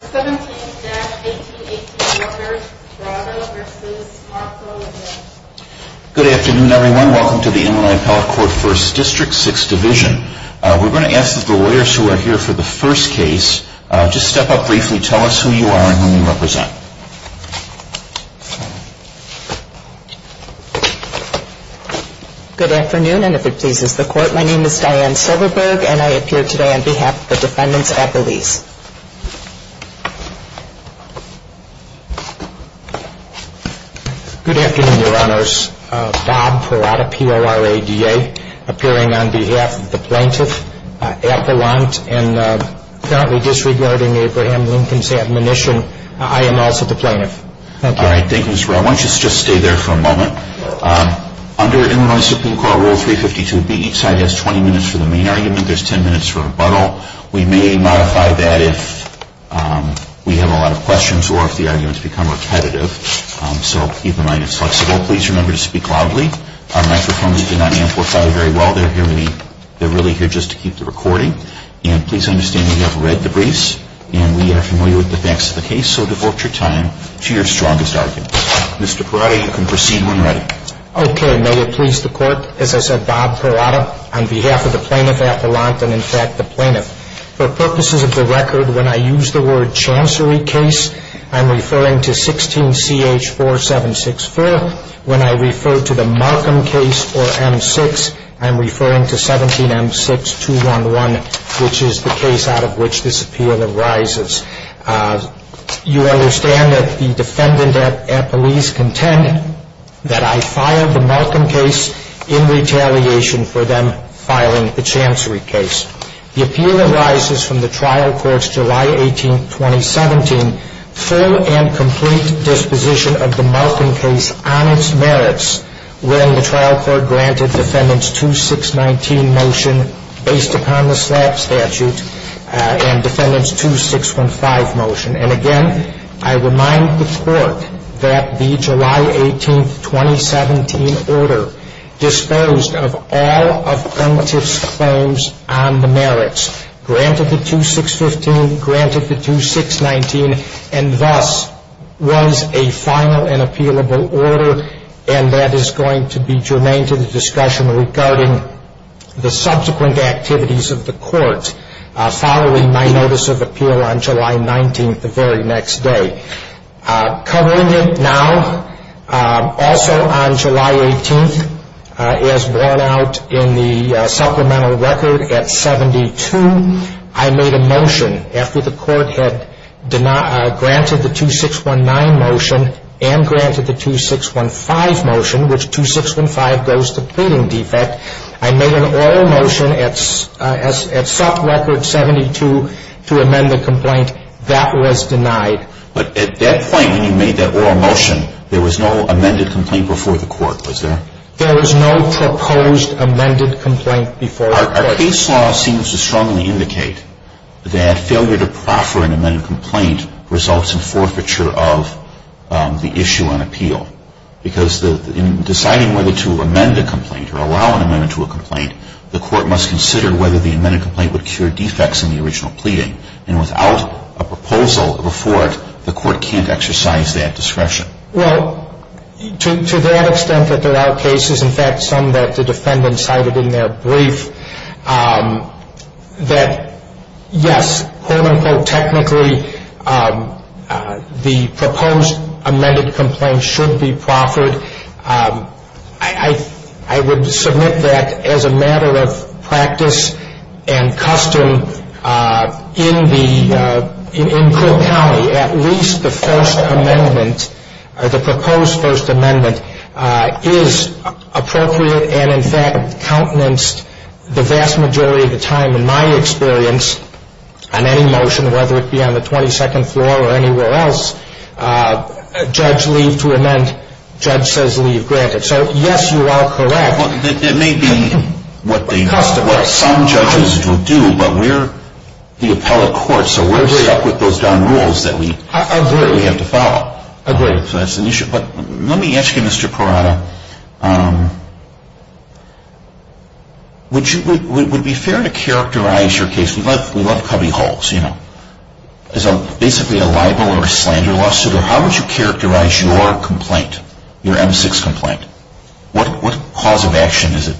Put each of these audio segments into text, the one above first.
Good afternoon everyone. Welcome to the Inland Appellate Court First District, 6th Division. We're going to ask that the lawyers who are here for the first case just step up briefly, tell us who you are and whom you represent. Good afternoon and if it pleases the court, my name is Diane Silverberg and I appear today on behalf of the defendants' appellees. Good afternoon, your honors. Bob Perada, P-O-R-A-D-A, appearing on behalf of the plaintiff Appellant and currently disregarding Abraham Lincoln's admonition. I am also the plaintiff. Thank you. Alright, thank you Mr. Perada. Why don't you just stay there for a moment. Under Illinois Supreme Court Rule 352B each side has 20 minutes for the main argument, there's 10 minutes for rebuttal. We may modify that if we have a lot of questions or if the arguments become repetitive, so keep in mind it's flexible. Please remember to speak loudly. Our microphones do not amplify very well, they're really here just to keep the recording. And please understand we have read the briefs and we are familiar with the facts of the case, so devote your time to your strongest argument. Mr. Perada, you can proceed when ready. Okay, may it please the court, as I said, Bob Perada on behalf of the plaintiff Appellant and in fact the plaintiff. For purposes of the record, when I use the word chancery case, I'm referring to 16CH4764. When I refer to the Markham case or M6, I'm referring to 17M6211, which is the case out of which this appeal arises. You understand that the defendant at police contend that I filed the Markham case in retaliation for them filing the chancery case. The appeal arises from the trial court's July 18, 2017, full and complete disposition of the Markham case on its merits when the trial court granted Defendant's 2619 motion based upon the SLAP statute and Defendant's 2615 motion. And again, I remind the court that the July 18, 2017 order disposed of all of Plaintiff's claims on the merits, granted the 2615, granted the 2619, and thus was a final and appealable order and that is going to be germane to the discussion regarding the subsequent activities of the court following my notice of appeal on July 19th, the very next day. Covering it now, also on July 18th, as borne out in the supplemental record at 72, I made a motion after the court had granted the 2619 motion and granted the 2615 motion, which was to amend the complaint. That was denied. But at that point when you made that oral motion, there was no amended complaint before the court, was there? There was no proposed amended complaint before the court. Our case law seems to strongly indicate that failure to proffer an amended complaint results in forfeiture of the issue on appeal. Because in deciding whether to amend the complaint or allow an amendment to a complaint, the court must consider whether the amended complaint would cure defects in the original pleading. And without a proposal before it, the court can't exercise that discretion. Well, to that extent that there are cases, in fact some that the defendant cited in their brief, that yes, quote unquote technically, the proposed amended complaint should be proffered. I would submit that as a matter of practice and custom in the, in Cook County, at least the first amendment, the proposed first amendment is appropriate and in fact countenanced the vast majority of the time in my experience on any motion, whether it be on the 22nd floor or anywhere else, judge leave to amend, judge says leave granted. So yes, you are correct. It may be what they, what some judges will do, but we're the appellate court, so we're stuck with those darn rules that we have to follow. Agreed. Agreed. So that's an issue. But let me ask you, Mr. Corrado, would you, would it be fair to characterize your case, we love cubby holes, you know, as a basically a libel or a slander lawsuit, or how would you characterize your complaint, your M6 complaint? What cause of action is it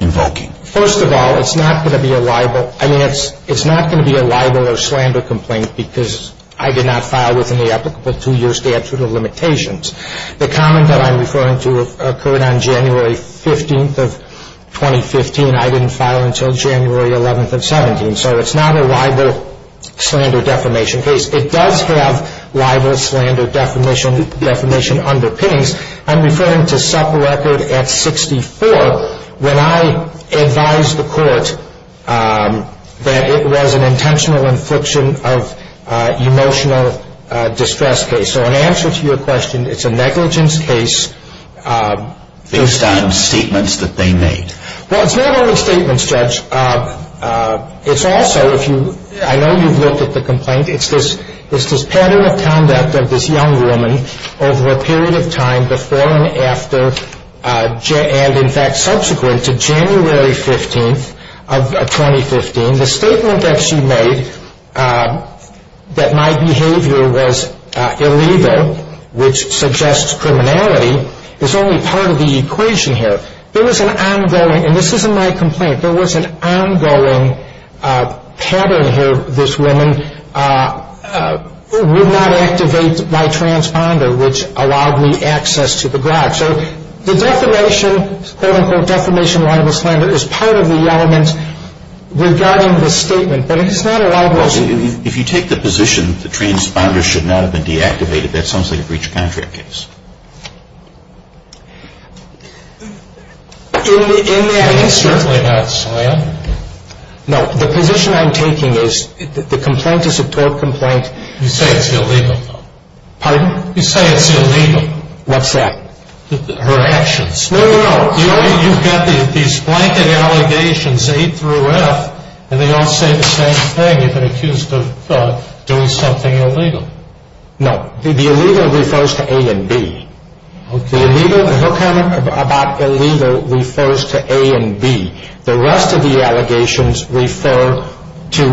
invoking? Well, first of all, it's not going to be a libel, I mean it's not going to be a libel or a slander complaint because I did not file within the applicable two year statute of limitations. The comment that I'm referring to occurred on January 15th of 2015, I didn't file until January 11th of 17th. So it's not a libel, slander, defamation case. It does have libel, slander, defamation underpinnings. I'm referring to SEPA record at 64 when I advised the court that it was an intentional infliction of emotional distress case. So in answer to your question, it's a negligence case based on statements that they made. Well, it's not only statements, Judge. It's also, I know you've looked at the complaint, it's this pattern of conduct of this young woman over a period of time before and after and in fact subsequent to January 15th of 2015. The statement that she made, that my behavior was illegal, which suggests criminality, is only part of the equation here. There was an ongoing, and this isn't my complaint, there was an ongoing pattern here, this woman would not activate my transponder, which allowed me access to the garage. So the defamation, quote unquote, defamation, libel, slander is part of the element regarding this statement. But it's not a libel, slander. If you take the position that the transponder should not have been deactivated, that sounds like a breach of contract case. In that instance, no, the position I'm taking is that the complaint is a tort complaint. You say it's illegal. Pardon? You say it's illegal. What's that? Her actions. No, no, no. You've got these blanket allegations A through F and they all say the same thing. It's a crime. It's a crime. It's a crime. It's a crime. It's a crime. The illegal refers to A and B. Okay. The illegal, her comment about illegal refers to A and B. The rest of the allegations refer to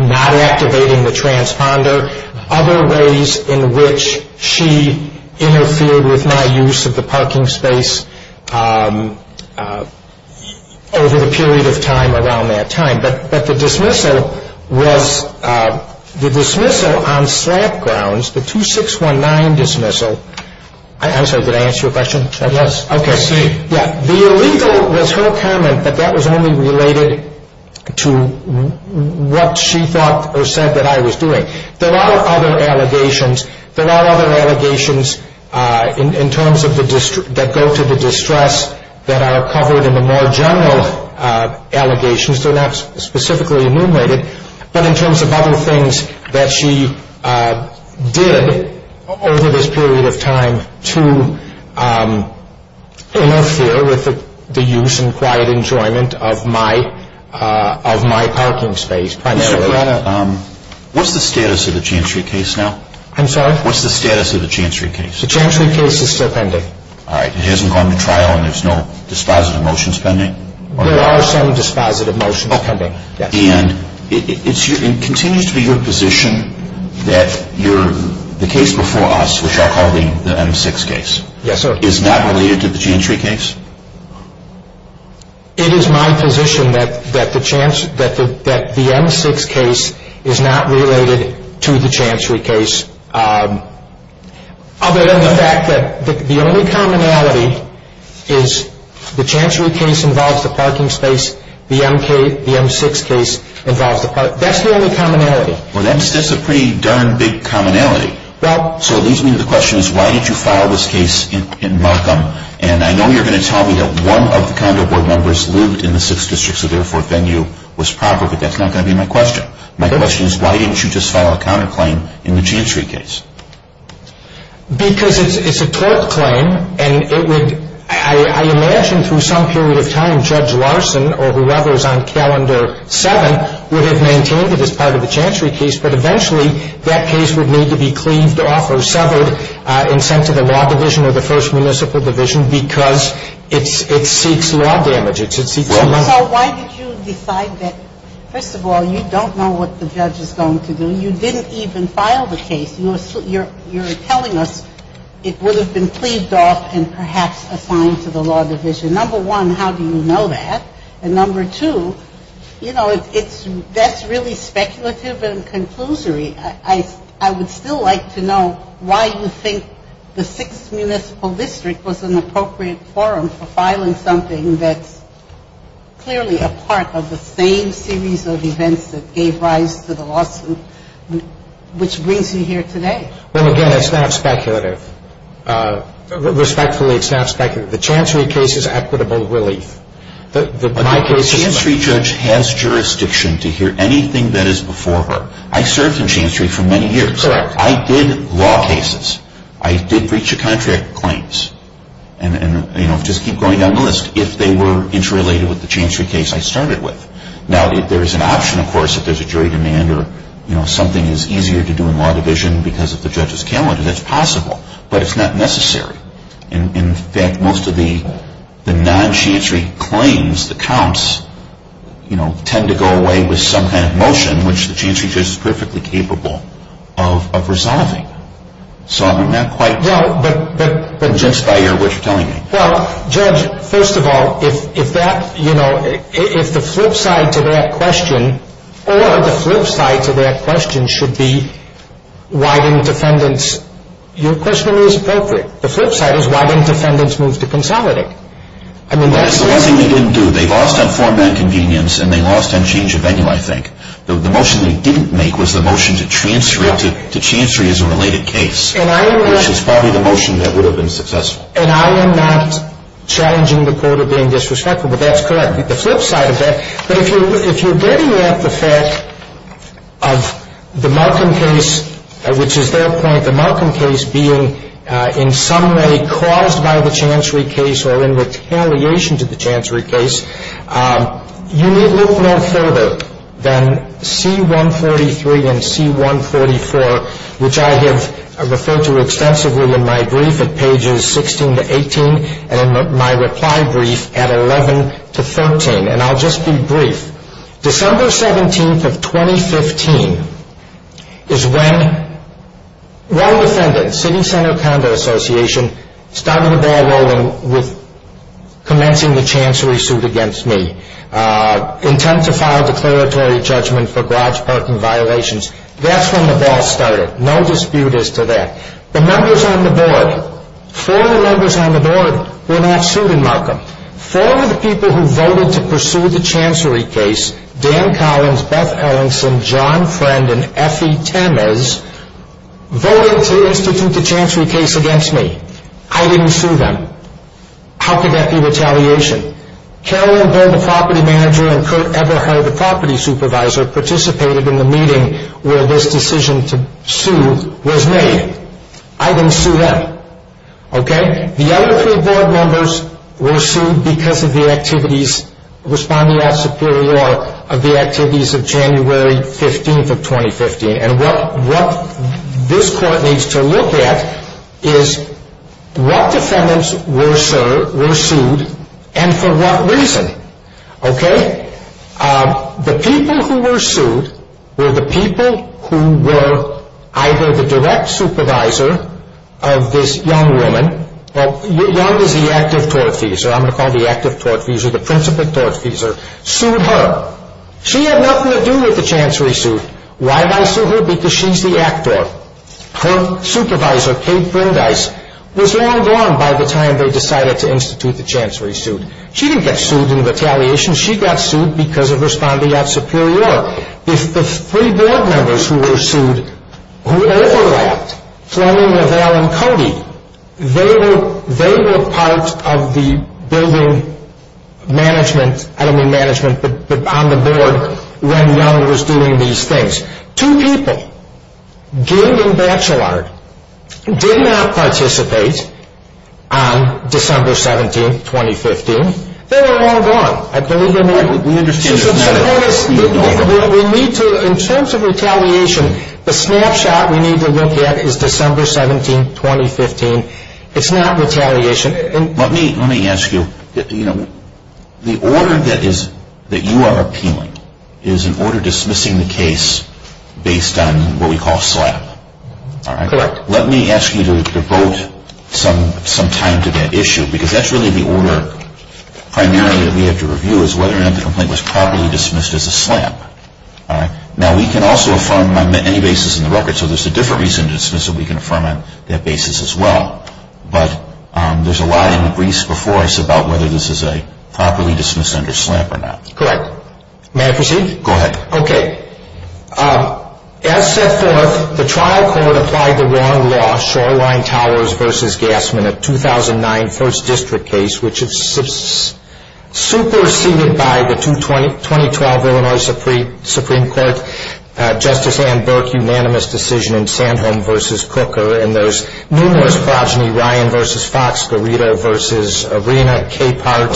not activating the transponder, other ways in which she interfered with my use of the parking space over the period of time around that time. But the dismissal was, the dismissal on slap grounds, the 2619 dismissal, I'm sorry, did I answer your question? Yes. Okay. I see. Yeah. The illegal was her comment, but that was only related to what she thought or said that I was doing. There are other allegations, there are other allegations in terms of, that go to the distress that are covered in the more general allegations, they're not specifically enumerated, but in did over this period of time to interfere with the use and quiet enjoyment of my parking Mr. Brenner, what's the status of the Chancery case now? I'm sorry? What's the status of the Chancery case? The Chancery case is still pending. All right. It hasn't gone to trial and there's no dispositive motions pending? There are some dispositive motions pending, yes. And it continues to be your position that the case before us, which I'll call the M6 case, is not related to the Chancery case? It is my position that the M6 case is not related to the Chancery case, other than the the only commonality is the Chancery case involves the parking space, the M6 case involves the parking space. That's the only commonality. Well, that's just a pretty darn big commonality. So it leads me to the question, why did you file this case in Markham? And I know you're going to tell me that one of the condo board members lived in the 6th District, so therefore venue was proper, but that's not going to be my question. My question is, why didn't you just file a counterclaim in the Chancery case? Because it's a tort claim, and it would – I imagine through some period of time, Judge Larson or whoever is on Calendar 7 would have maintained it as part of the Chancery case, but eventually that case would need to be cleaved off or severed and sent to the Law Division or the First Municipal Division because it seeks law damage. So why did you decide that first of all, you don't know what the judge is going to do. When you didn't even file the case, you're telling us it would have been cleaved off and perhaps assigned to the Law Division. Number one, how do you know that? And number two, you know, it's – that's really speculative and conclusory. I would still like to know why you think the 6th Municipal District was an appropriate forum for filing something that's clearly a part of the same series of events that gave rise to the lawsuit, which brings you here today. Well, again, it's not speculative. Respectfully, it's not speculative. The Chancery case is equitable relief. My case is – But the Chancery judge has jurisdiction to hear anything that is before her. I served in Chancery for many years. Correct. I did law cases. I did breach of contract claims and, you know, just keep going down the list. If they were interrelated with the Chancery case I started with. Now, there is an option, of course, if there's a jury demand or, you know, something is easier to do in Law Division because of the judge's calendar, that's possible. But it's not necessary. In fact, most of the non-Chancery claims, the counts, you know, tend to go away with some kind of motion, which the Chancery judge is perfectly capable of resolving. So I'm not quite – No, but – Just by what you're telling me. Well, Judge, first of all, if that, you know, if the flip side to that question or the flip side to that question should be widened defendants, your question is perfect. The flip side is widened defendants moved to Consolidate. I mean, that's – Well, that's the one thing they didn't do. They lost on four-man convenience and they lost on change of venue, I think. The motion they didn't make was the motion to transfer it to Chancery as a related case. And I am not – Which is probably the motion that would have been successful. And I am not challenging the court of being disrespectful, but that's correct. The flip side of that, but if you're getting at the fact of the Markham case, which is their point, the Markham case being in some way caused by the Chancery case or in retaliation to the Chancery case, you need look no further than C-143 and C-144, which I have referred to extensively in my brief at pages 16 to 18 and in my reply brief at 11 to 13. And I'll just be brief. December 17th of 2015 is when one defendant, City Center Conduct Association, started the ball rolling with commencing the Chancery suit against me, intent to file declaratory judgment for garage parking violations. That's when the ball started. No dispute as to that. The members on the board, four of the members on the board, were not sued in Markham. Four of the people who voted to pursue the Chancery case, Dan Collins, Beth Ellison, John Friend, and Effie Temes, voted to institute the Chancery case against me. I didn't sue them. How could that be retaliation? Carolyn Bould, the property manager, and Kurt Eberhard, the property supervisor, participated in the meeting where this decision to sue was made. I didn't sue them. Okay? The other three board members were sued because of the activities, responding after Superior Law, of the activities of January 15th of 2015. And what this court needs to look at is what defendants were sued and for what reason. Okay? The people who were sued were the people who were either the direct supervisor of this young woman, well, young is the active tortfeasor, I'm going to call it the active tortfeasor, the principal tortfeasor, sued her. She had nothing to do with the Chancery suit. Why did I sue her? Because she's the actor. Her supervisor, Kate Brindise, was long gone by the time they decided to institute the Chancery suit. She didn't get sued in retaliation. She got sued because of responding after Superior Law. The three board members who were sued, who overlapped, Fleming, Navell, and Cody, they were part of the building management, I don't mean management, but on the board when Young was doing these things. Two people, Gill and Bachelard, did not participate on December 17th, 2015. They were long gone. In terms of retaliation, the snapshot we need to look at is December 17th, 2015. It's not retaliation. Let me ask you, the order that you are appealing is an order dismissing the case based on what we call SLAPP. Correct. Let me ask you to devote some time to that issue because that's really the order primarily that we have to review is whether or not the complaint was properly dismissed as a SLAPP. Now, we can also affirm on any basis in the record, so there's a different reason to dismiss that we can affirm on that basis as well. But there's a lot in the briefs before us about whether this is a properly dismissed under SLAPP or not. Correct. May I proceed? Go ahead. Okay. As set forth, the trial court applied the wrong law, Shoreline Towers v. Gassman, a 2009 first district case, which is superseded by the 2012 Illinois Supreme Court, Justice Ann Burke, unanimous decision in Sandholm v. Cooker and those numerous progeny, Ryan v. Fox, Garita v. Arena, Capehart,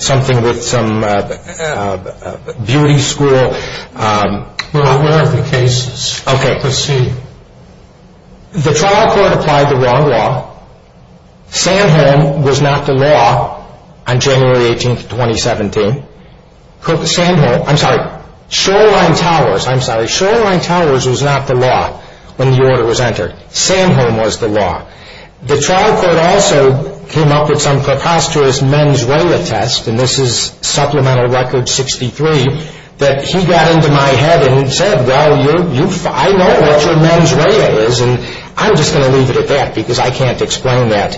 something with some beauty school. What are the cases? Okay. Proceed. The trial court applied the wrong law. Sandholm was not the law on January 18th, 2017. Shoreline Towers was not the law when the order was entered. Sandholm was the law. The trial court also came up with some preposterous mens rela test, and this is supplemental record 63, that he got into my head and said, well, I know what your mens rela is, and I'm just going to leave it at that because I can't explain that.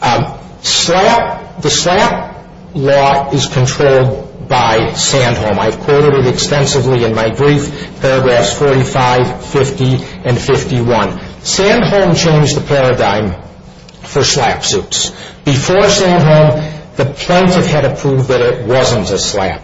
The SLAPP law is controlled by Sandholm. I've quoted it extensively in my brief, paragraphs 45, 50, and 51. Sandholm changed the paradigm for SLAPP suits. Before Sandholm, the plaintiff had to prove that it wasn't a SLAPP.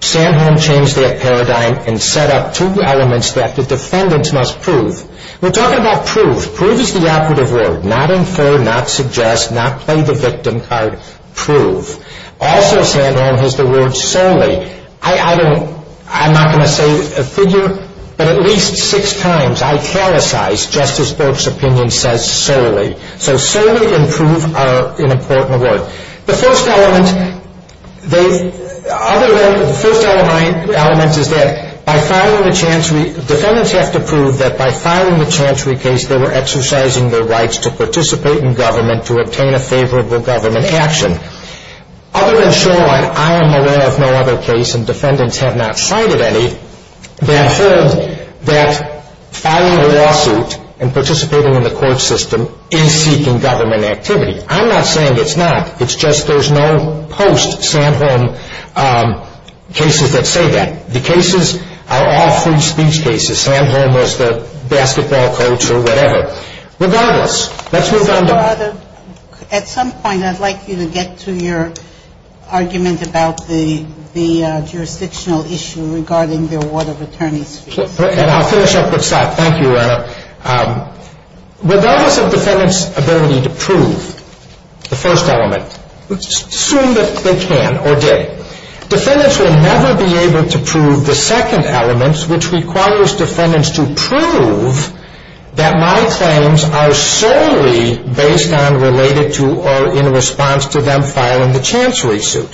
Sandholm changed that paradigm and set up two elements that the defendants must prove. We're talking about proof. Proof is the operative word. Not infer, not suggest, not play the victim card. Proof. Also, Sandholm has the word solely. I don't, I'm not going to say a figure, but at least six times, I callousized Justice Burke's opinion says solely. So solely and prove are an important word. The first element, other than, the first element is that by filing a chancery, defendants have to prove that by filing a chancery case, they were exercising their rights to participate in government, to obtain a favorable government action. Other than shoreline, I am aware of no other case, and defendants have not cited any, that I've heard that filing a lawsuit and participating in the court system is seeking government activity. I'm not saying it's not. It's just there's no post-Sandholm cases that say that. The cases are all free speech cases. Sandholm was the basketball coach or whatever. Regardless, let's move on. At some point, I'd like you to get to your argument about the jurisdictional issue regarding the award of attorney's fees. And I'll finish up with that. Thank you, Your Honor. Regardless of defendants' ability to prove the first element, assume that they can or did, defendants will never be able to prove the second element, which requires defendants to prove that my claims are solely based on, related to, or in response to them filing the chancery suit.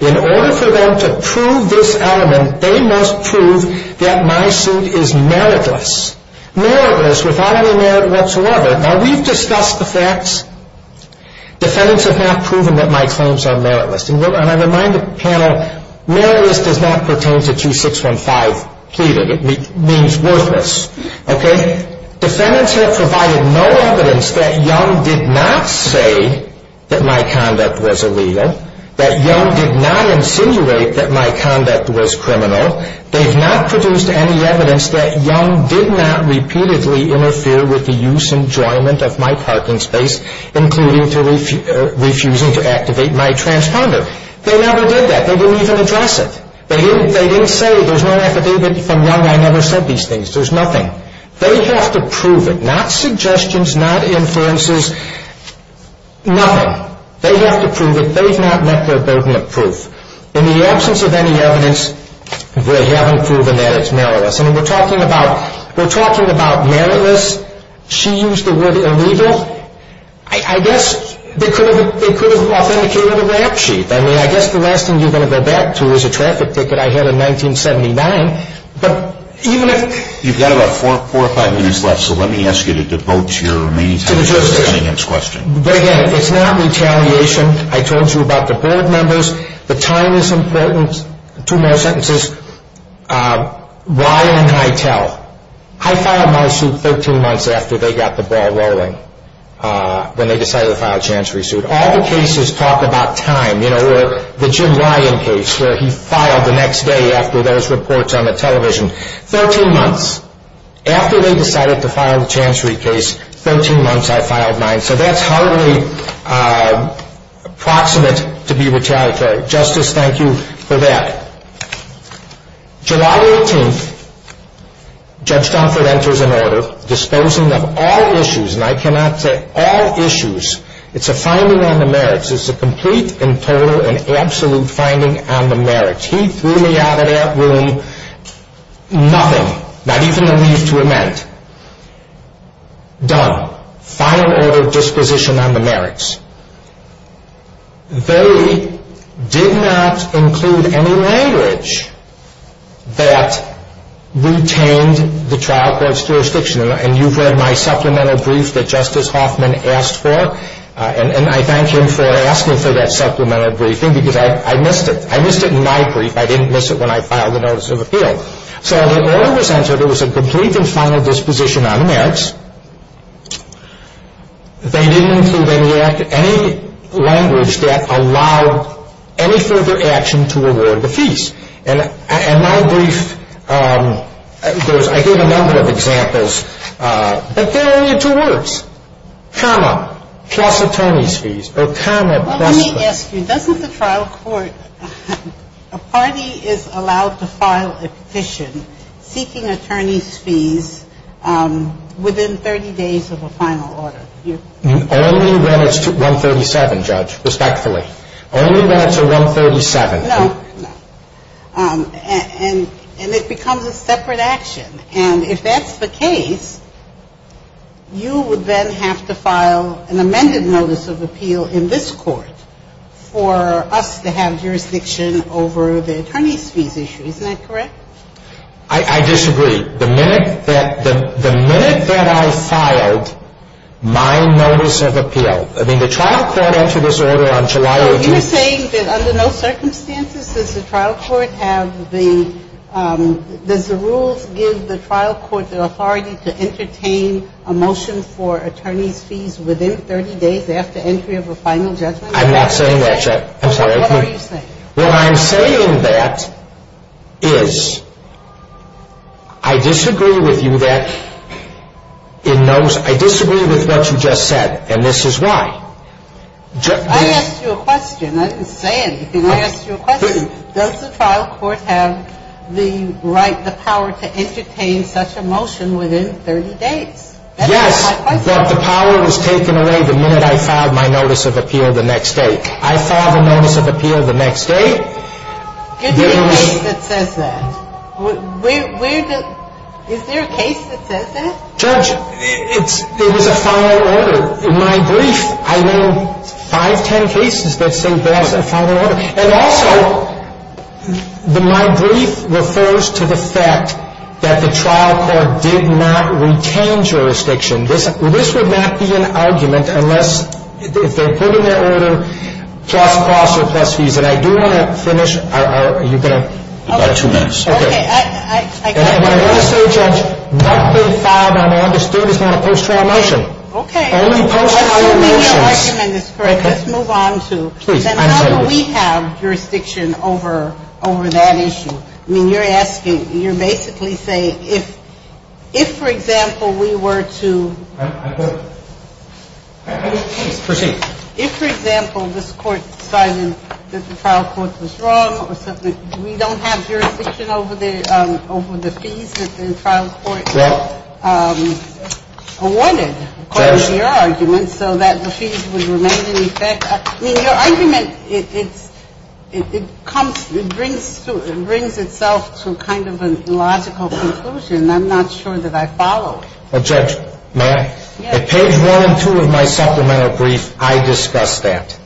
In order for them to prove this element, they must prove that my suit is meritless. Meritless, without any merit whatsoever. Now, we've discussed the facts. Defendants have not proven that my claims are meritless. And I remind the panel, meritless does not pertain to 2615 pleaded. It means worthless. Okay? Defendants have provided no evidence that Young did not say that my conduct was illegal, that Young did not insinuate that my conduct was criminal. They've not produced any evidence that Young did not repeatedly interfere with the use and enjoyment of my parking space, including refusing to activate my transponder. They never did that. They didn't even address it. They didn't say, there's no affidavit from Young. I never said these things. There's nothing. They have to prove it. Not suggestions, not inferences, nothing. They have to prove it. They've not met their burden of proof. In the absence of any evidence, they haven't proven that it's meritless. I mean, we're talking about meritless. She used the word illegal. I guess they could have authenticated a rap sheet. I mean, I guess the last thing you're going to go back to is a traffic ticket I had in 1979. But even if... You've got about four or five minutes left, so let me ask you to devote your remaining time to Cunningham's question. But again, it's not retaliation. I told you about the board members. The time is important. Two more sentences. Ryan and Hytel. I filed my suit 13 months after they got the ball rolling. When they decided to file a chancery suit. All the cases talk about time. You know, or the Jim Ryan case, where he filed the next day after those reports on the television. 13 months. After they decided to file the chancery case, 13 months, I filed mine. So that's hardly proximate to be retaliatory. Justice, thank you for that. July 18th. Judge Dunford enters an order. Disposing of all issues. And I cannot say all issues. It's a finding on the merits. It's a complete and total and absolute finding on the merits. He threw me out of that room. Nothing. Not even a leave to amend. Done. Final order of disposition on the merits. They did not include any language that retained the trial court's jurisdiction. And you've read my supplemental brief that Justice Hoffman asked for. And I thank him for asking for that supplemental briefing. Because I missed it. I missed it in my brief. I didn't miss it when I filed the notice of appeal. So the order was entered. It was a complete and final disposition on the merits. They didn't include any language that allowed any further action to award the fees. And my brief goes, I gave a number of examples. But there are only two words. Karma plus attorney's fees. Or karma plus fees. Well, let me ask you. Doesn't the trial court, a party is allowed to file a petition seeking attorney's fees within 30 days of a final order? Only when it's to 137, Judge. Respectfully. Only when it's to 137. No. And it becomes a separate action. And if that's the case, you would then have to file an amended notice of appeal in this court for us to have jurisdiction over the attorney's fees issue. Isn't that correct? I disagree. The minute that I filed my notice of appeal, I mean, the trial court entered this order on July. You're saying that under no circumstances does the trial court have the, does the rules give the trial court the authority to entertain a motion for attorney's fees within 30 days after entry of a final judgment? I'm not saying that, Judge. I'm sorry. What are you saying? What I'm saying that is I disagree with you that in those, I disagree with what you just said. And this is why. I asked you a question. I didn't say anything. I asked you a question. Does the trial court have the right, the power to entertain such a motion within 30 days? Yes. But the power was taken away the minute I filed my notice of appeal the next day. I filed the notice of appeal the next day. Is there a case that says that? Is there a case that says that? Judge, it was a final order. In my brief, I know 5, 10 cases that say there was a final order. And also, my brief refers to the fact that the trial court did not retain jurisdiction. This would not be an argument unless they're putting their order plus costs or plus fees. And I do want to finish our, you've got about two minutes. Okay. I got it. And what I want to say, Judge, what they filed on August 3rd is not a post-trial motion. Okay. Only post-trial motions. Assuming your argument is correct, let's move on to, then how do we have jurisdiction over that issue? I mean, you're asking, you're basically saying if, for example, we were to... I put it. Please proceed. If, for example, this court decided that the trial court was wrong or something, we don't have jurisdiction over the fees that the trial court awarded according to your argument so that the fees would remain in effect. I mean, your argument, it comes, it brings itself to kind of a logical conclusion. I'm not sure that I follow it. Well, Judge, may I? Yes. At page one and two of my supplemental brief, I discuss that.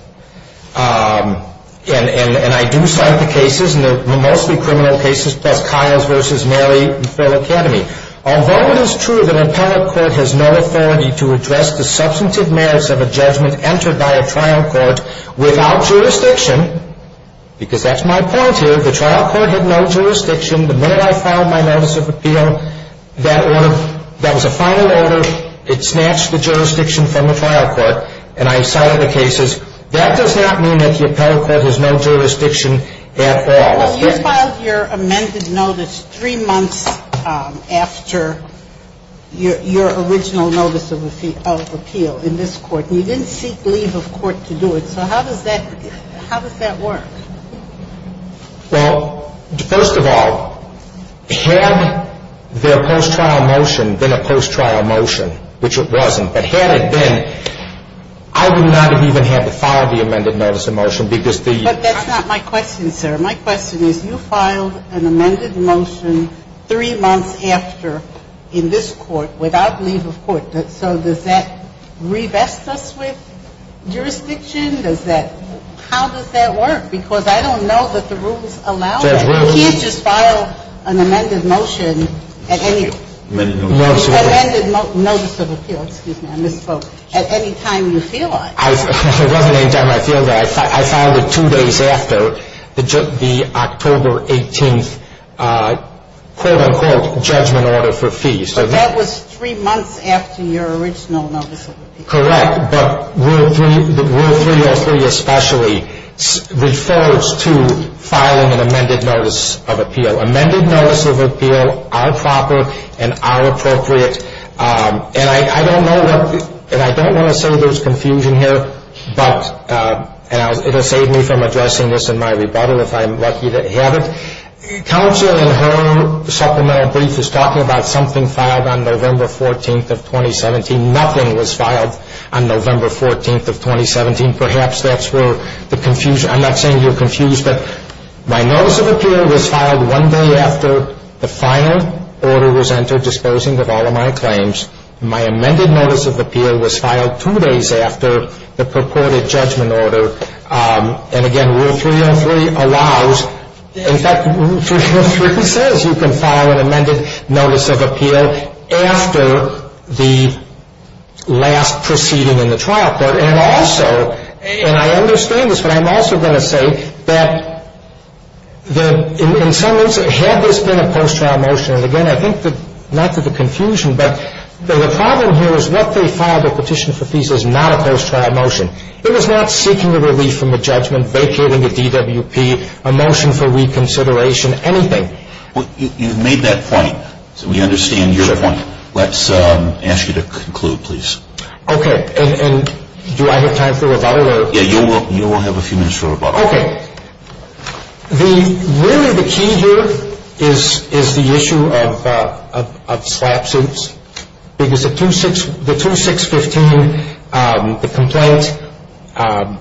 And I do cite the cases, and they're mostly criminal cases, plus Kyle's versus Mary and Phil Academy. Although it is true that an appellate court has no authority to address the substantive merits of a judgment entered by a trial court without jurisdiction, because that's my point here. The trial court had no jurisdiction. The minute I filed my notice of appeal, that order, that was a final order. It snatched the jurisdiction from the trial court, and I cited the cases. That does not mean that the appellate court has no jurisdiction at all. Well, you filed your amended notice three months after your original notice of appeal in this court. You didn't seek leave of court to do it. So how does that work? Well, first of all, had there been a post-trial motion, which it wasn't, but had it been, I would not have even had to file the amended notice of motion because the – But that's not my question, sir. My question is, you filed an amended motion three months after in this court without leave of court. So does that revest us with jurisdiction? Does that – how does that work? Because I don't know that the rules allow that. You can't just file an amended motion at any – No, I'm sorry. An amended notice of appeal – excuse me, I misspoke – at any time you feel like. It wasn't any time I feel like. I filed it two days after the October 18th, quote-unquote, judgment order for fees. So that was three months after your original notice of appeal. Correct, but Rule 303 especially refers to filing an amended notice of appeal. Amended notice of appeal are proper and are appropriate. And I don't know what – and I don't want to say there's confusion here, but – and it'll save me from addressing this in my rebuttal if I'm lucky to have it. Counsel in her supplemental brief is talking about something filed on November 14th of 2017. Nothing was filed on November 14th of 2017. Perhaps that's where the confusion – I'm not saying you're confused, but my notice of appeal was filed one day after the final order was entered disposing of all of my claims. My amended notice of appeal was filed two days after the purported judgment order. And again, Rule 303 allows – in fact, Rule 303 says you can file an amended notice of appeal after the last proceeding in the trial court. And also – and I understand this, but I'm also going to say that in some – had this been a post-trial motion – and again, I think that – not to the confusion, but the problem here is what they filed a petition for fees is not a post-trial motion. It was not seeking a relief from a judgment, vacating a DWP, a motion for reconsideration, anything. You've made that point, so we understand your point. Let's ask you to conclude, please. Okay. And do I have time for rebuttal? Yeah, you will have a few minutes for rebuttal. Okay. The – really, the key here is the issue of slap suits. Because the 2615, the complaint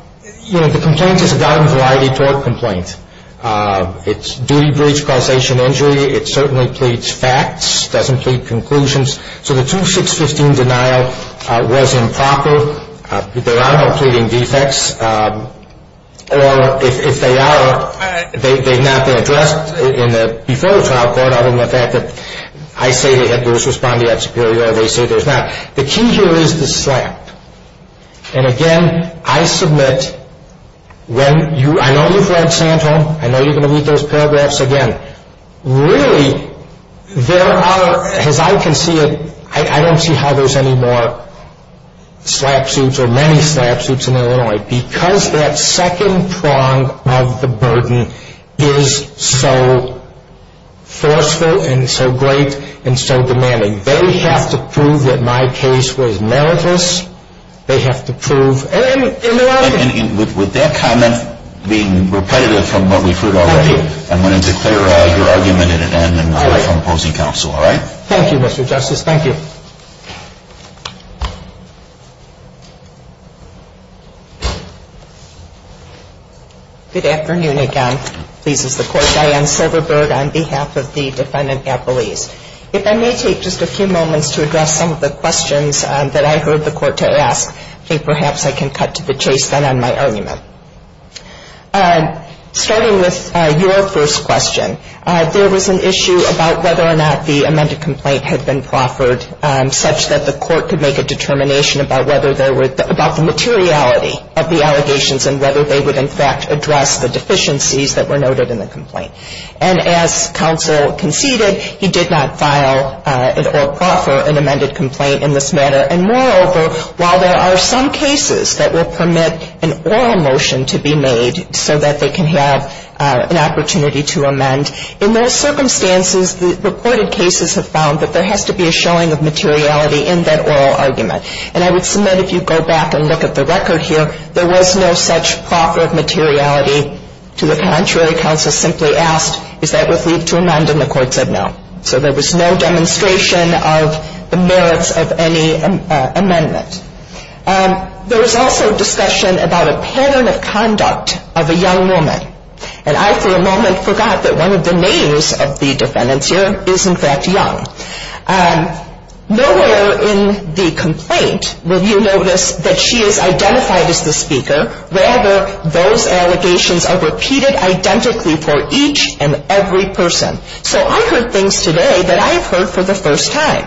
– you know, the complaint is a gotten variety tort complaint. It's duty breach, causation injury. It certainly pleads facts, doesn't plead conclusions. So the 2615 denial was improper. There are no pleading defects. Or if they are, they've not been addressed in the – before the trial court, other than the fact that I say that there is respondeat superior, they say there's not. The key here is the slap. And again, I submit when you – I know you've read Santorum. I know you're going to read those paragraphs again. But really, there are – as I can see it, I don't see how there's any more slap suits or many slap suits in Illinois. Because that second prong of the burden is so forceful and so great and so demanding. They have to prove that my case was meritless. They have to prove – And with that comment being repetitive from what we've heard already, I'm going to declare your argument at an end and withdraw from opposing counsel. All right? Thank you, Mr. Justice. Thank you. Good afternoon again. Pleased as the court. Diane Silverberg on behalf of the Defendant Appellees. If I may take just a few moments to address some of the questions that I heard the court to ask, perhaps I can cut to the chase then on my argument. Starting with your first question, there was an issue about whether or not the amended complaint had been proffered such that the court could make a determination about whether there were – about the materiality of the allegations and whether they would in fact address the deficiencies that were noted in the complaint. And as counsel conceded, he did not file or proffer an amended complaint in this matter. And moreover, while there are some cases that will permit an oral motion to be made so that they can have an opportunity to amend, in those circumstances, the reported cases have found that there has to be a showing of materiality in that oral argument. And I would submit if you go back and look at the record here, there was no such proffer of materiality. To the contrary, counsel simply asked, is that with leave to amend, and the court said no. So there was no demonstration of the merits of any amendment. There was also discussion about a pattern of conduct of a young woman. And I for a moment forgot that one of the names of the defendants here is in fact young. Nowhere in the complaint will you notice that she is identified as the speaker. Rather, those allegations are repeated identically for each and every person. So I heard things today that I have heard for the first time,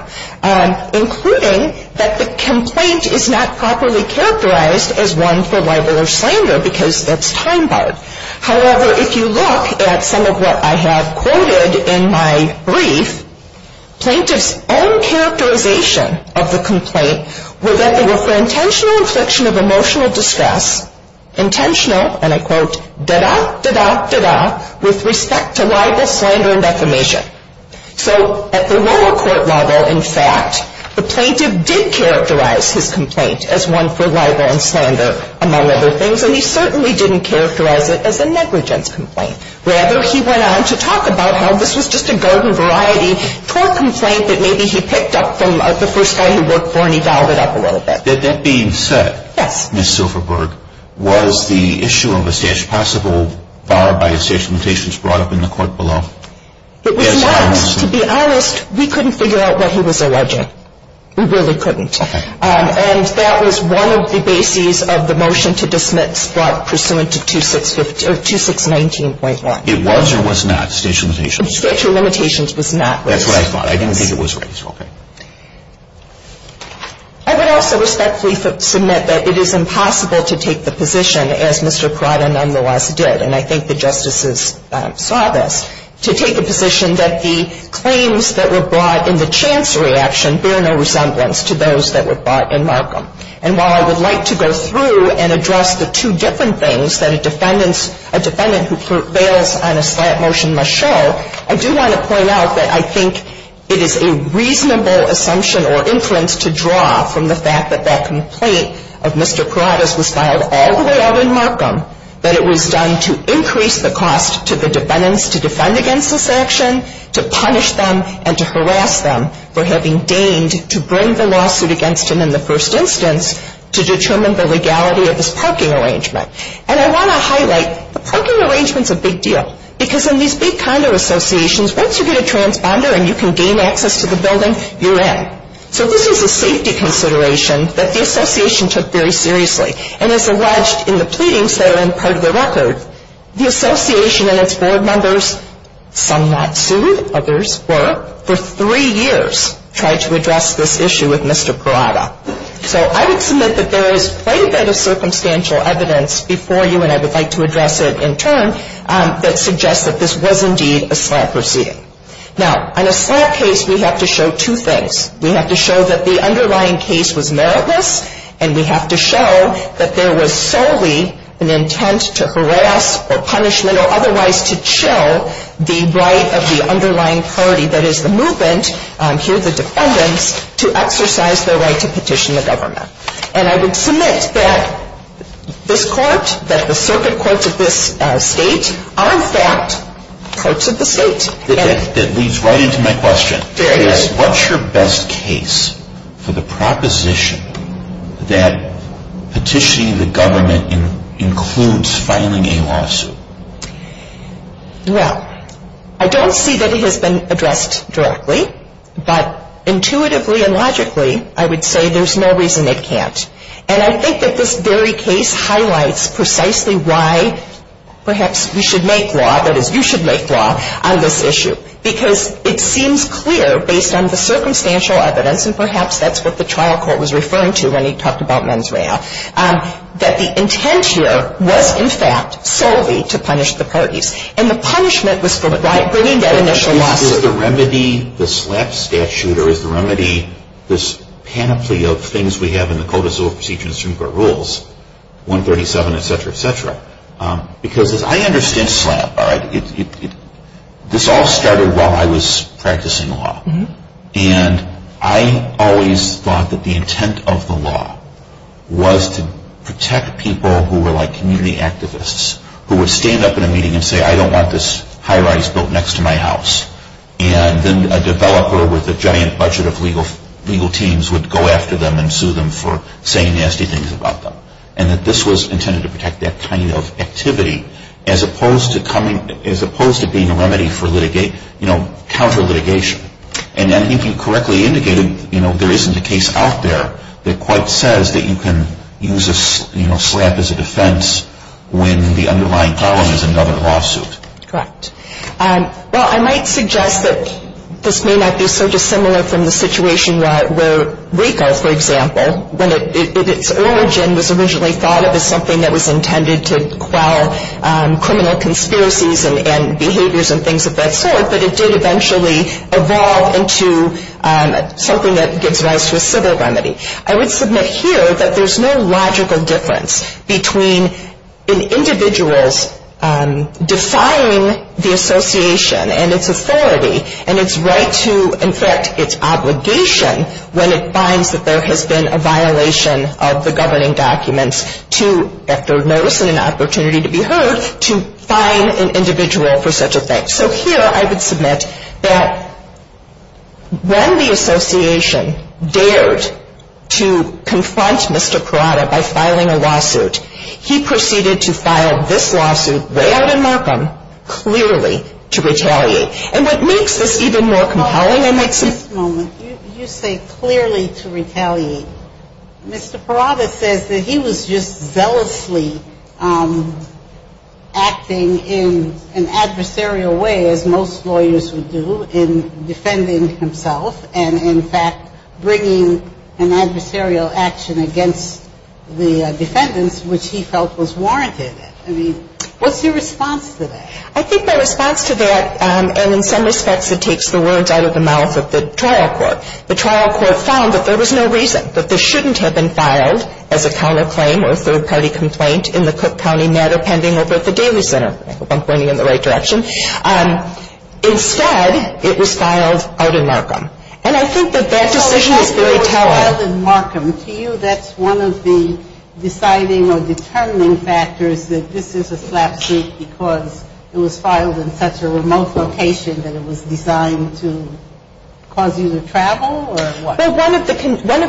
including that the complaint is not properly characterized as one for libel or slander because that's time barred. However, if you look at some of what I have quoted in my brief, plaintiff's own characterization of the complaint were that they were for intentional infliction of emotional distress, intentional, and I quote, da-da, da-da, da-da, with respect to libel, slander, and defamation. So at the lower court level, in fact, the plaintiff did characterize his complaint as one for libel and slander, among other things, and he certainly didn't characterize it as a negligence complaint. Rather, he went on to talk about how this was just a garden variety tort complaint that maybe he picked up from the first guy he worked for and he dialed it up a little bit. That being said, Ms. Silverberg, was the issue of a stash possible barred by a stash of limitations brought up in the court below? It was not. To be honest, we couldn't figure out what he was alleging. We really couldn't. And that was one of the bases of the motion to dismiss brought pursuant to 2619.1. It was or was not a stash of limitations? A stash of limitations was not raised. That's what I thought. I didn't think it was raised. I would also respectfully submit that it is impossible to take the position as Mr. Prada nonetheless did, and I think the Justices saw this, to take a position that the claims that were brought in the chancery action bear no resemblance to those that were brought in Markham. And while I would like to go through and address the two different things that a defendant who prevails on a slant motion must show, I do want to point out that I think it is a reasonable assumption or inference to draw from the fact that that complaint of Mr. Prada's was filed all the way out in Markham, that it was done to increase the cost to the defendants to defend against this action, to punish them, and to harass them for having deigned to bring the lawsuit against him in the first instance to determine the legality of this parking arrangement. And I want to highlight, the parking arrangement's a big deal because in these big condo associations, once you get a transponder and you can gain access to the building, you're in. So this is a safety consideration that the association took very seriously. And as alleged in the pleadings that are in part of the record, the association and its board members, some not sued, others were, for three years tried to address this issue with Mr. Prada. So I would submit that there is quite a bit of circumstantial evidence before you and I would like to address it in turn that suggests that this was indeed a slab proceeding. Now, on a slab case, we have to show two things. We have to show that the underlying case was meritless and we have to show that there was solely an intent to harass or punishment or otherwise to chill the right of the underlying party, that is the movement, here the defendants, to exercise their right to petition the government. And I would submit that this court, that the circuit courts of this state are in fact courts of the state. That leads right into my question. What's your best case for the proposition that petitioning the government includes filing a lawsuit? Well, I don't see that it has been addressed directly but intuitively and logically I would say there's no reason it can't. And I think that this very case highlights precisely why perhaps we should make law that is you should make law on this issue because it seems clear based on the circumstantial evidence and perhaps that's what the trial court was referring to when he talked about mens rea that the intent here was in fact solely to punish the parties. And the punishment was for bringing that initial lawsuit. Is the remedy the slab statute or is the remedy this panoply of things we have in the Code of Civil Procedure and the Constitution and Supreme Court rules 137 etc. etc. Because as I understand slab this all started while I was practicing law and I always thought that the intent of the law was to protect people who were like community activists who would stand up in a meeting and say I don't want this high rise built next to my house and then a developer with a giant budget of legal teams would go after them and sue them for saying nasty things about them and that this was intended to protect that kind of activity as opposed to being a remedy for counter litigation and I think you correctly indicated there isn't a case out there that quite says that you can use a slab as a defense when the underlying problem is another lawsuit. Correct. Well I might suggest that this may not be so dissimilar from the situation where RICO for example when its origin was originally thought of as something that was intended to quell criminal conspiracies and behaviors and things of that sort but it did eventually evolve into something that gives rise to a civil remedy. I would submit here that there is no logical difference between an individual's defying the association and its authority and its right to, in fact, its obligation when it finds that there has been a violation of the governing documents to, at their notice and an opportunity to be heard to fine an individual for such a thing. So here I would submit that when the association dared to confront Mr. Parada by filing a lawsuit he proceeded to file this lawsuit way out in Markham clearly to retaliate and what makes this even more compelling is that at this moment you say clearly to retaliate Mr. Parada says that he was just zealously acting in an adversarial way as most lawyers would do in defending himself and in fact bringing an adversarial action against the defendants which he felt was warranted. What's your response to that? I think my response to that and in some respects it takes the words out of the mouth of the trial court the trial court found that there was no reason that this shouldn't have been filed as a counterclaim or a third party complaint in the Cook County matter pending over at the Daly Center. I hope I'm pointing in the right direction. Instead it was filed out in Markham and I think that that decision is very telling. To you that's one of the deciding or determining factors that this is a SLAPP suit because it was filed in such a remote location that it was designed to cause you to travel or what? One of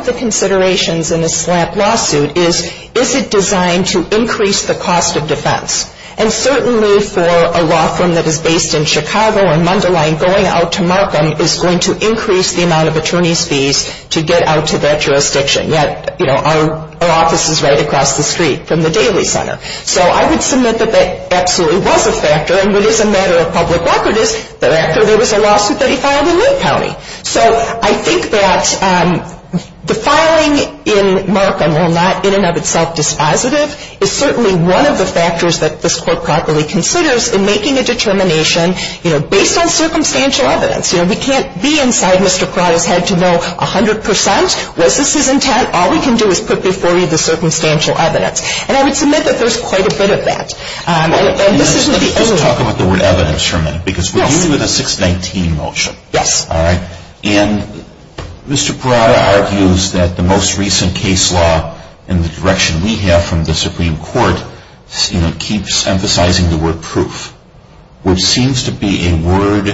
the considerations in a SLAPP lawsuit is is it designed to increase the cost of defense and certainly for a law firm that is based in Chicago or Mundelein going out to Markham is going to increase the amount of attorney's fees to get out to that jurisdiction. Yet our office is right across the street from the Daly Center. I would submit that that absolutely was a factor and what is a matter of public record is that after there was a lawsuit that he filed in Linn County. I think that the filing in Markham while not in and of itself dispositive is certainly one of the factors that this court properly considers in making a determination based on circumstantial evidence. We can't be inside Mr. Pratt's head to know 100% was this his intent? All we can do is put before you the circumstantial evidence. And I would submit that there's quite a bit of that. Let's talk about the word evidence for a minute because we're dealing with a 619 motion. Yes. Alright. Mr. Pratt argues that the most recent case law in the direction we have from the Supreme Court keeps emphasizing the word proof which seems to be a word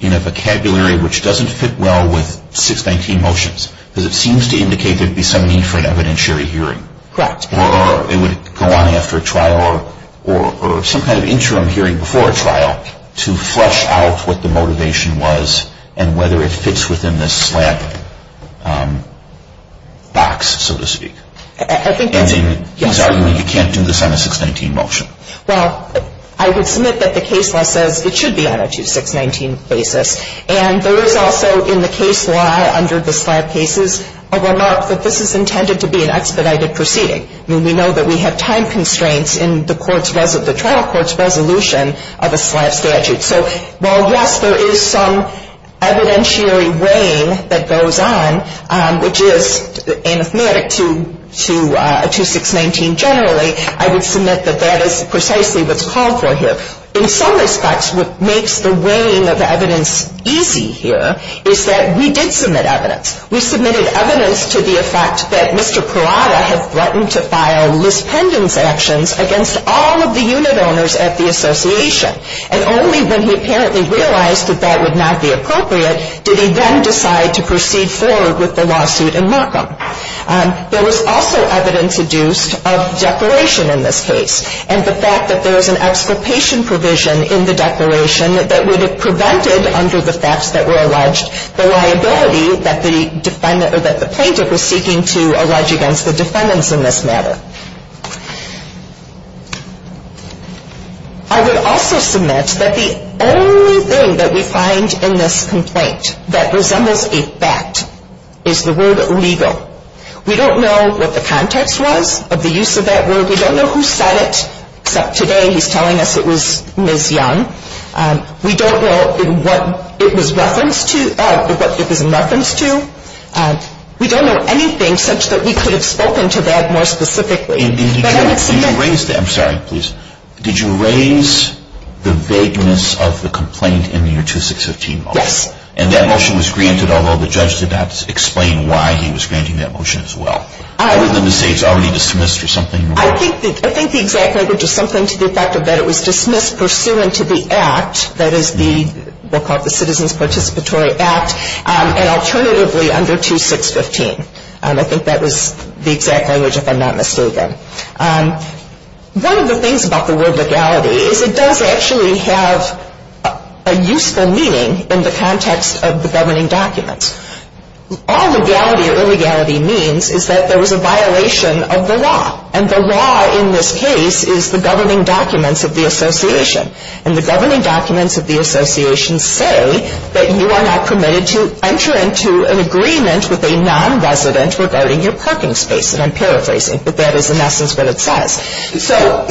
in a vocabulary which doesn't fit well with 619 motions because it seems to indicate there would be some need for an evidentiary hearing. Correct. Or it would go on after a trial or some kind of interim hearing before a trial to flesh out what the motivation was and whether it fits within this slab box so to speak. He's arguing you can't do this on a 619 motion. Well, I would submit that the case law says it should be on a 619 basis. And there is also in the case law under the slab cases a remark that this is intended to be an expedited proceeding. We know that we have time constraints in the trial court's resolution of a slab statute. So while yes, there is some evidentiary weighing that goes on, which is anathematic to 619 generally, I would submit that that is precisely what's called for here. In some respects what makes the weighing of the evidence easy here is that we did submit evidence. We submitted evidence to the effect that Mr. Parada had threatened to file lispendence actions against all of the unit owners at the association. And only when he apparently realized that that would not be appropriate did he then decide to proceed forward with the lawsuit in Markham. There was also evidence adduced of declaration in this case. And the fact that there is an participation provision in the declaration that would have prevented, under the facts that were alleged, the liability that the defendant or that the plaintiff was seeking to allege against the defendants in this matter. I would also submit that the only thing that we find in this complaint that resembles a fact is the word legal. We don't know what the context was of the use of that word. We don't know who said it, except today he's telling us it was Ms. Young. We don't know what it was referenced to or what it was in reference to. We don't know anything such that we could have spoken to that more specifically. I'm sorry, please. Did you raise the vagueness of the complaint in your 2615 motion? Yes. And that motion was granted, although the judge did not explain why he was granting that motion as well? Other than to say it's already dismissed or something? I think the exact language is something to the effect that it was dismissed pursuant to the Act, that is the what we'll call the Citizens Participatory Act, and alternatively under 2615. I think that was the exact language, if I'm not mistaken. One of the things about the word legality is it does actually have a useful meaning in the context of the governing documents. All legality or illegality means is that there was a law in this case is the governing documents of the association. And the governing documents of the association say that you are not permitted to enter into an agreement with a non-resident regarding your parking space. And I'm paraphrasing, but that is in essence what it says. So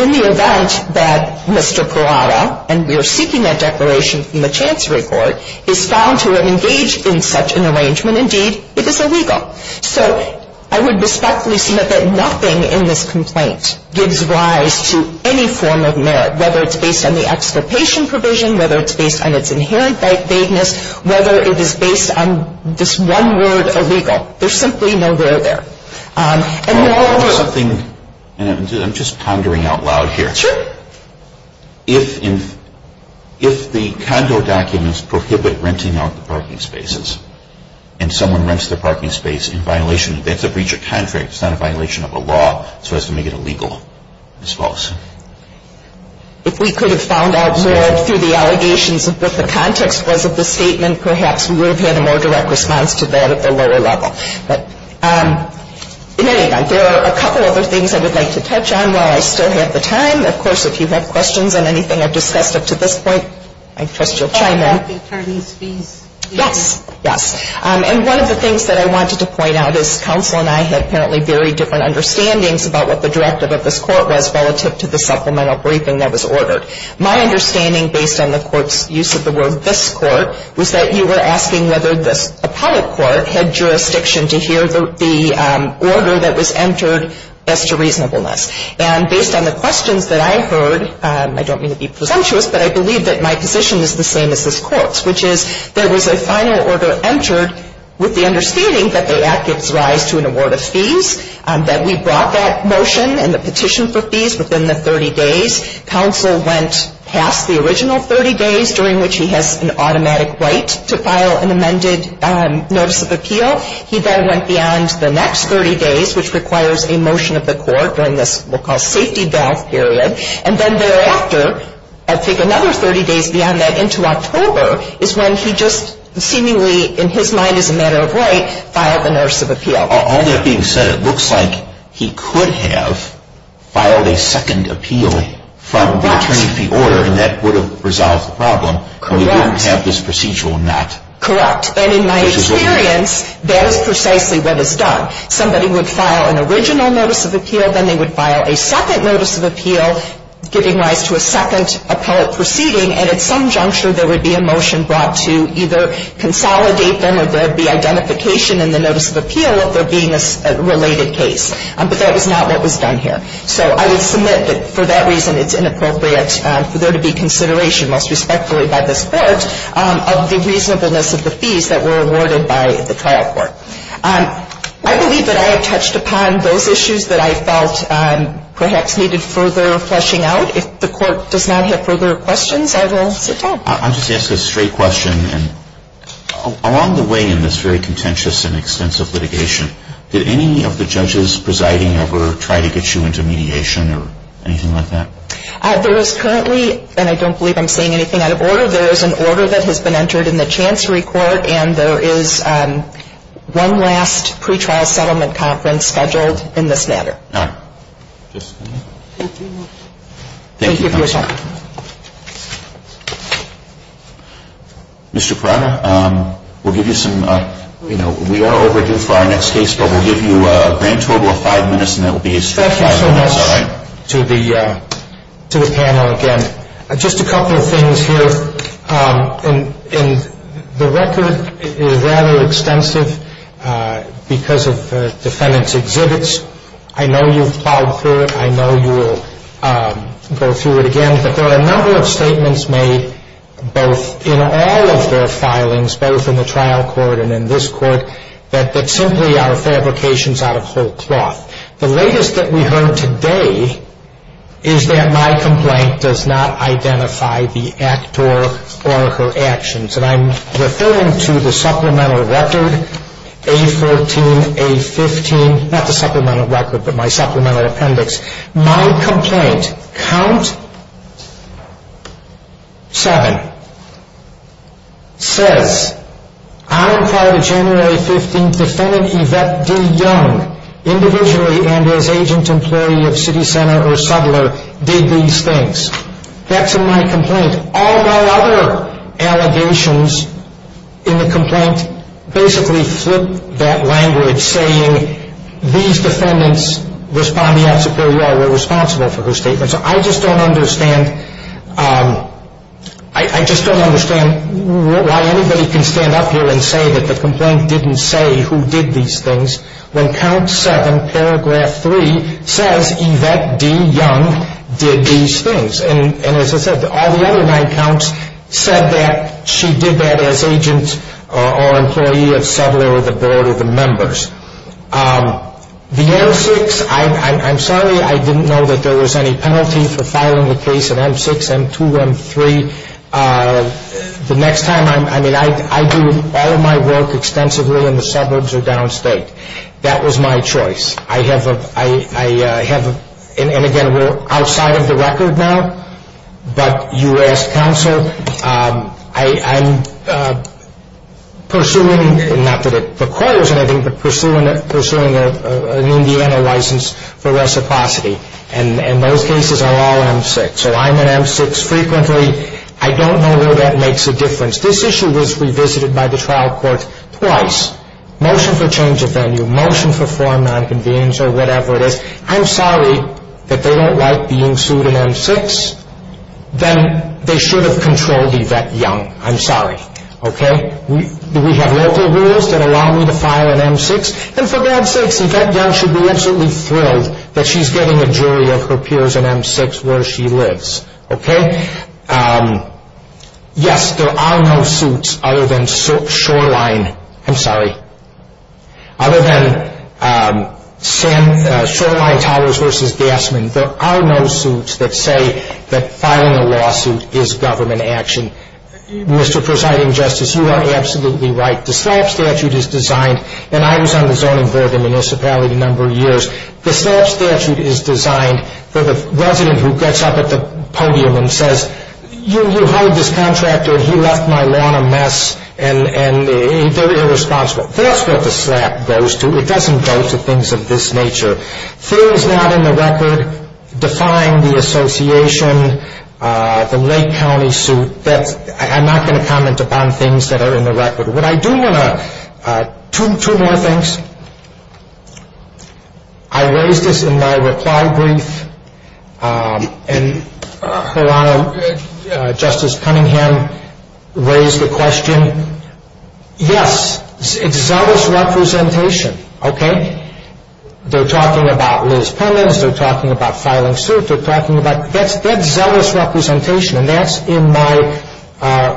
in the event that Mr. Perotta, and we are seeking that declaration from the Chancery Court, is found to have engaged in such an arrangement, indeed it is illegal. So I would respectfully submit that nothing in this complaint gives rise to any form of merit, whether it's based on the extirpation provision, whether it's based on its inherent vagueness, whether it is based on this one word, illegal. There's simply no where there. And there are rules. I'm just pondering out loud here. Sure. If the condo documents prohibit renting out the parking spaces, and someone rents the parking space in violation that's a breach of contract, it's not a violation of a law, so as to make it illegal, it's false. If we could have found out more through the allegations of what the context was of the statement, perhaps we would have had a more direct response to that at the lower level. There are a couple other things I would like to touch on while I still have the time. Of course, if you have questions on anything I've discussed up to this point, I trust you'll chime in. Yes. And one of the things that I wanted to point out is counsel and I had apparently very different understandings about what the directive of this court was relative to the supplemental briefing that was ordered. My understanding, based on the court's use of the word this court, was that you were asking whether this appellate court had jurisdiction to hear the order that was entered as to reasonableness. And based on the questions that I heard, I don't mean to be presumptuous, but I don't mean to be presumptuous. What I mean to be presumptuous is that there was a final order entered with the understanding that the act gives rise to an award of fees, that we brought that motion and the petition for fees within the 30 days. Counsel went past the original 30 days, during which he has an automatic right to file an amended notice of appeal. He then went beyond the next 30 days, which requires a motion of the court during this we'll call safety valve period, and then thereafter, I think another 30 days beyond that into October, is when he just seemingly, in his mind as a matter of right, filed a notice of appeal. All that being said, it looks like he could have filed a second appeal from the attorney of the order, and that would have resolved the problem. Correct. We wouldn't have this procedural not. Correct. And in my experience, that is precisely what is done. Somebody would file an original notice of appeal, then they would file a second notice of appeal, giving rise to a second appellate proceeding, and at some juncture there would be a motion brought to either consolidate them, or there would be identification in the notice of appeal of there being a related case. But that was not what was done here. So I would submit that for that reason, it's inappropriate for there to be consideration, most respectfully by this court, of the reasonableness of the fees that were awarded by the trial court. I believe that I have perhaps needed further fleshing out. If the court does not have further questions, I will sit down. I'll just ask a straight question. Along the way in this very contentious and extensive litigation, did any of the judges presiding ever try to get you into mediation or anything like that? There is currently, and I don't believe I'm saying anything out of order, there is an order that has been entered in the Chancery Court, and there is one last pretrial settlement conference scheduled in this matter. Thank you. Thank you for your time. Mr. Pirana, we'll give you some, we are overdue for our next case, but we'll give you a grand total of five minutes and that will be a straight five minutes. Thank you so much to the panel again. Just a couple of things here. The record is rather extensive because of defendant's exhibits. I know you've plowed through it. I know you will go through it again. But there are a number of statements made both in all of their filings, both in the trial court and in this court, that simply are fabrications out of whole cloth. The latest that we heard today is that my complaint does not identify the actor or her actions. And I'm referring to the supplemental record, A14, A15, not the supplemental record, but my supplemental appendix. My complaint, count seven, says, I am part of January 15th defendant Yvette D. Young, employee of city center or settler, did these things. That's in my complaint. And all my other allegations in the complaint basically flip that language saying these defendants responding at Superior were responsible for her statements. I just don't understand I just don't understand why anybody can stand up here and say that the complaint didn't say who did these things when count seven, paragraph three, says Yvette D. Young did these things. And as I said, all the other nine counts said that she did that as agent or employee of settler or the board of the members. The M6, I'm sorry I didn't know that there was any penalty for filing a case in M6, M2, M3. The next time, I mean, I do all of my work extensively in the suburbs or downstate. That was my choice. I have, and again, we're outside of the record now, but you asked counsel, I'm pursuing, not that it requires anything, but pursuing an Indiana license for reciprocity. And those cases are all M6. So I'm in M6 frequently. I don't know where that makes a difference. This issue was revisited by the trial court twice. Motion for change of venue, motion for form of non-convenience or whatever it is. I'm sorry that they don't like being sued in M6. Then they should have controlled Yvette Young. I'm sorry. Do we have local rules that allow me to file in M6? And for God's sakes, Yvette Young should be absolutely thrilled that she's getting a jury of her peers in M6 where she lives. Yes, there are no suits other than Shoreline. I'm sorry. Other than Shoreline Towers v. Gassman, there are no suits that say that filing a lawsuit is government action. Mr. Presiding Justice, you are absolutely right. The SLAPP statute is designed, and I was on the zoning board in the municipality a number of years, the SLAPP statute is designed for the resident who gets up at the podium and says, you hired this contractor and he left my lawn a mess and they're irresponsible. That's what the SLAPP goes to. It doesn't go to things of this nature. Things not in the record define the association, the Lake County suit. I'm not going to comment upon things that are in the record. What I do want to two more things. I raised this in my reply brief and Her Honor, Justice Cunningham raised the question yes, it's zealous representation. They're talking about Liz Pimmons, they're talking about filing a suit, they're talking about, that's zealous representation and that's in my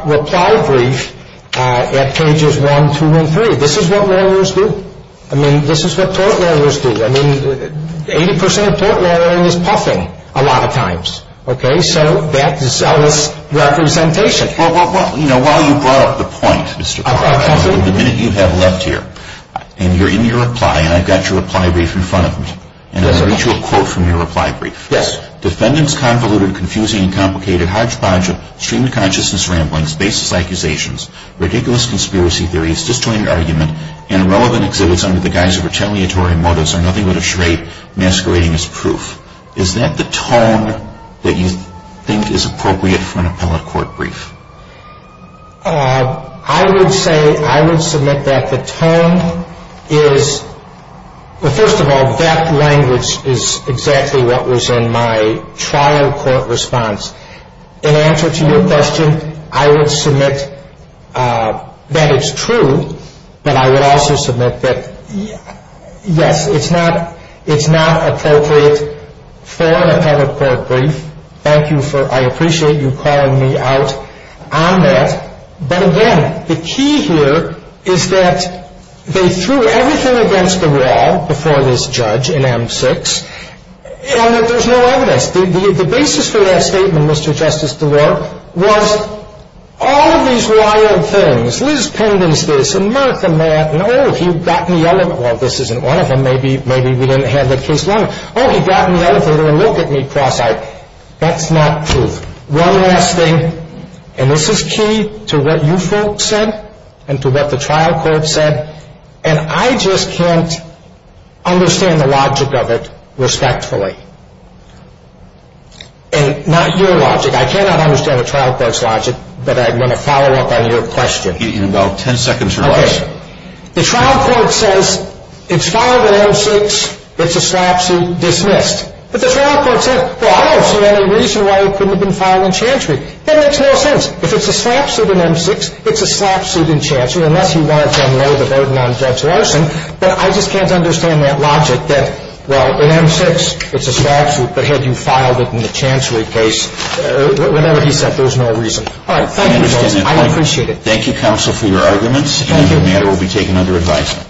reply brief at pages 1, 2, and 3. This is what lawyers do. This is what tort lawyers do. 80% of tort lawyering is puffing a lot of times. That's zealous representation. While you brought up the point, the minute you have left here and you're in your reply and I've got your reply brief in front of me. I'll read you a quote from your reply brief. Defendants' convoluted, confusing, and complicated hodgepodge of streamed consciousness ramblings, baseless accusations, ridiculous conspiracy theories, disjointed argument, and irrelevant exhibits under the guise of retaliatory motives are nothing but a charade masquerading as proof. Is that the tone that you think is appropriate for an appellate court brief? I would say I would submit that the tone is first of all, that language is exactly what was in my trial court response. In answer to your question, I would submit that it's true but I would also submit that yes, it's not it's not appropriate for an appellate court brief. Thank you for, I appreciate you calling me out on that but again, the key here is that they threw everything against the wall before this judge in M6 and that there's no evidence. The basis for that statement, Mr. Justice DeWarp, was all of these wild things Liz Pendens this, and Murtha Matt, and oh, he got in the elevator well, this isn't one of them, maybe we didn't have that case long enough. Oh, he got in the elevator and looked at me cross-eyed. That's not truth. One last thing and this is key to what you folks said and to what the trial court said and I just can't understand the logic of it respectfully. And not your logic, I cannot understand the trial court's logic but I'm going to follow up on your question. In about 10 seconds or less. The trial court says it's filed in M6 it's a slap suit, dismissed. But the trial court said, well, I don't see any reason why it couldn't have been filed in Chancery. That makes no sense. If it's a slap suit in M6, it's a slap suit in Chancery unless you wanted to unload the burden on Judge Larson, but I just can't understand that logic that, well, in M6 it's a slap suit, but had you filed it in the Chancery case whatever he said, there's no reason. Alright, thank you folks. I appreciate it. Thank you, counsel, for your arguments. This matter will be taken under advisement.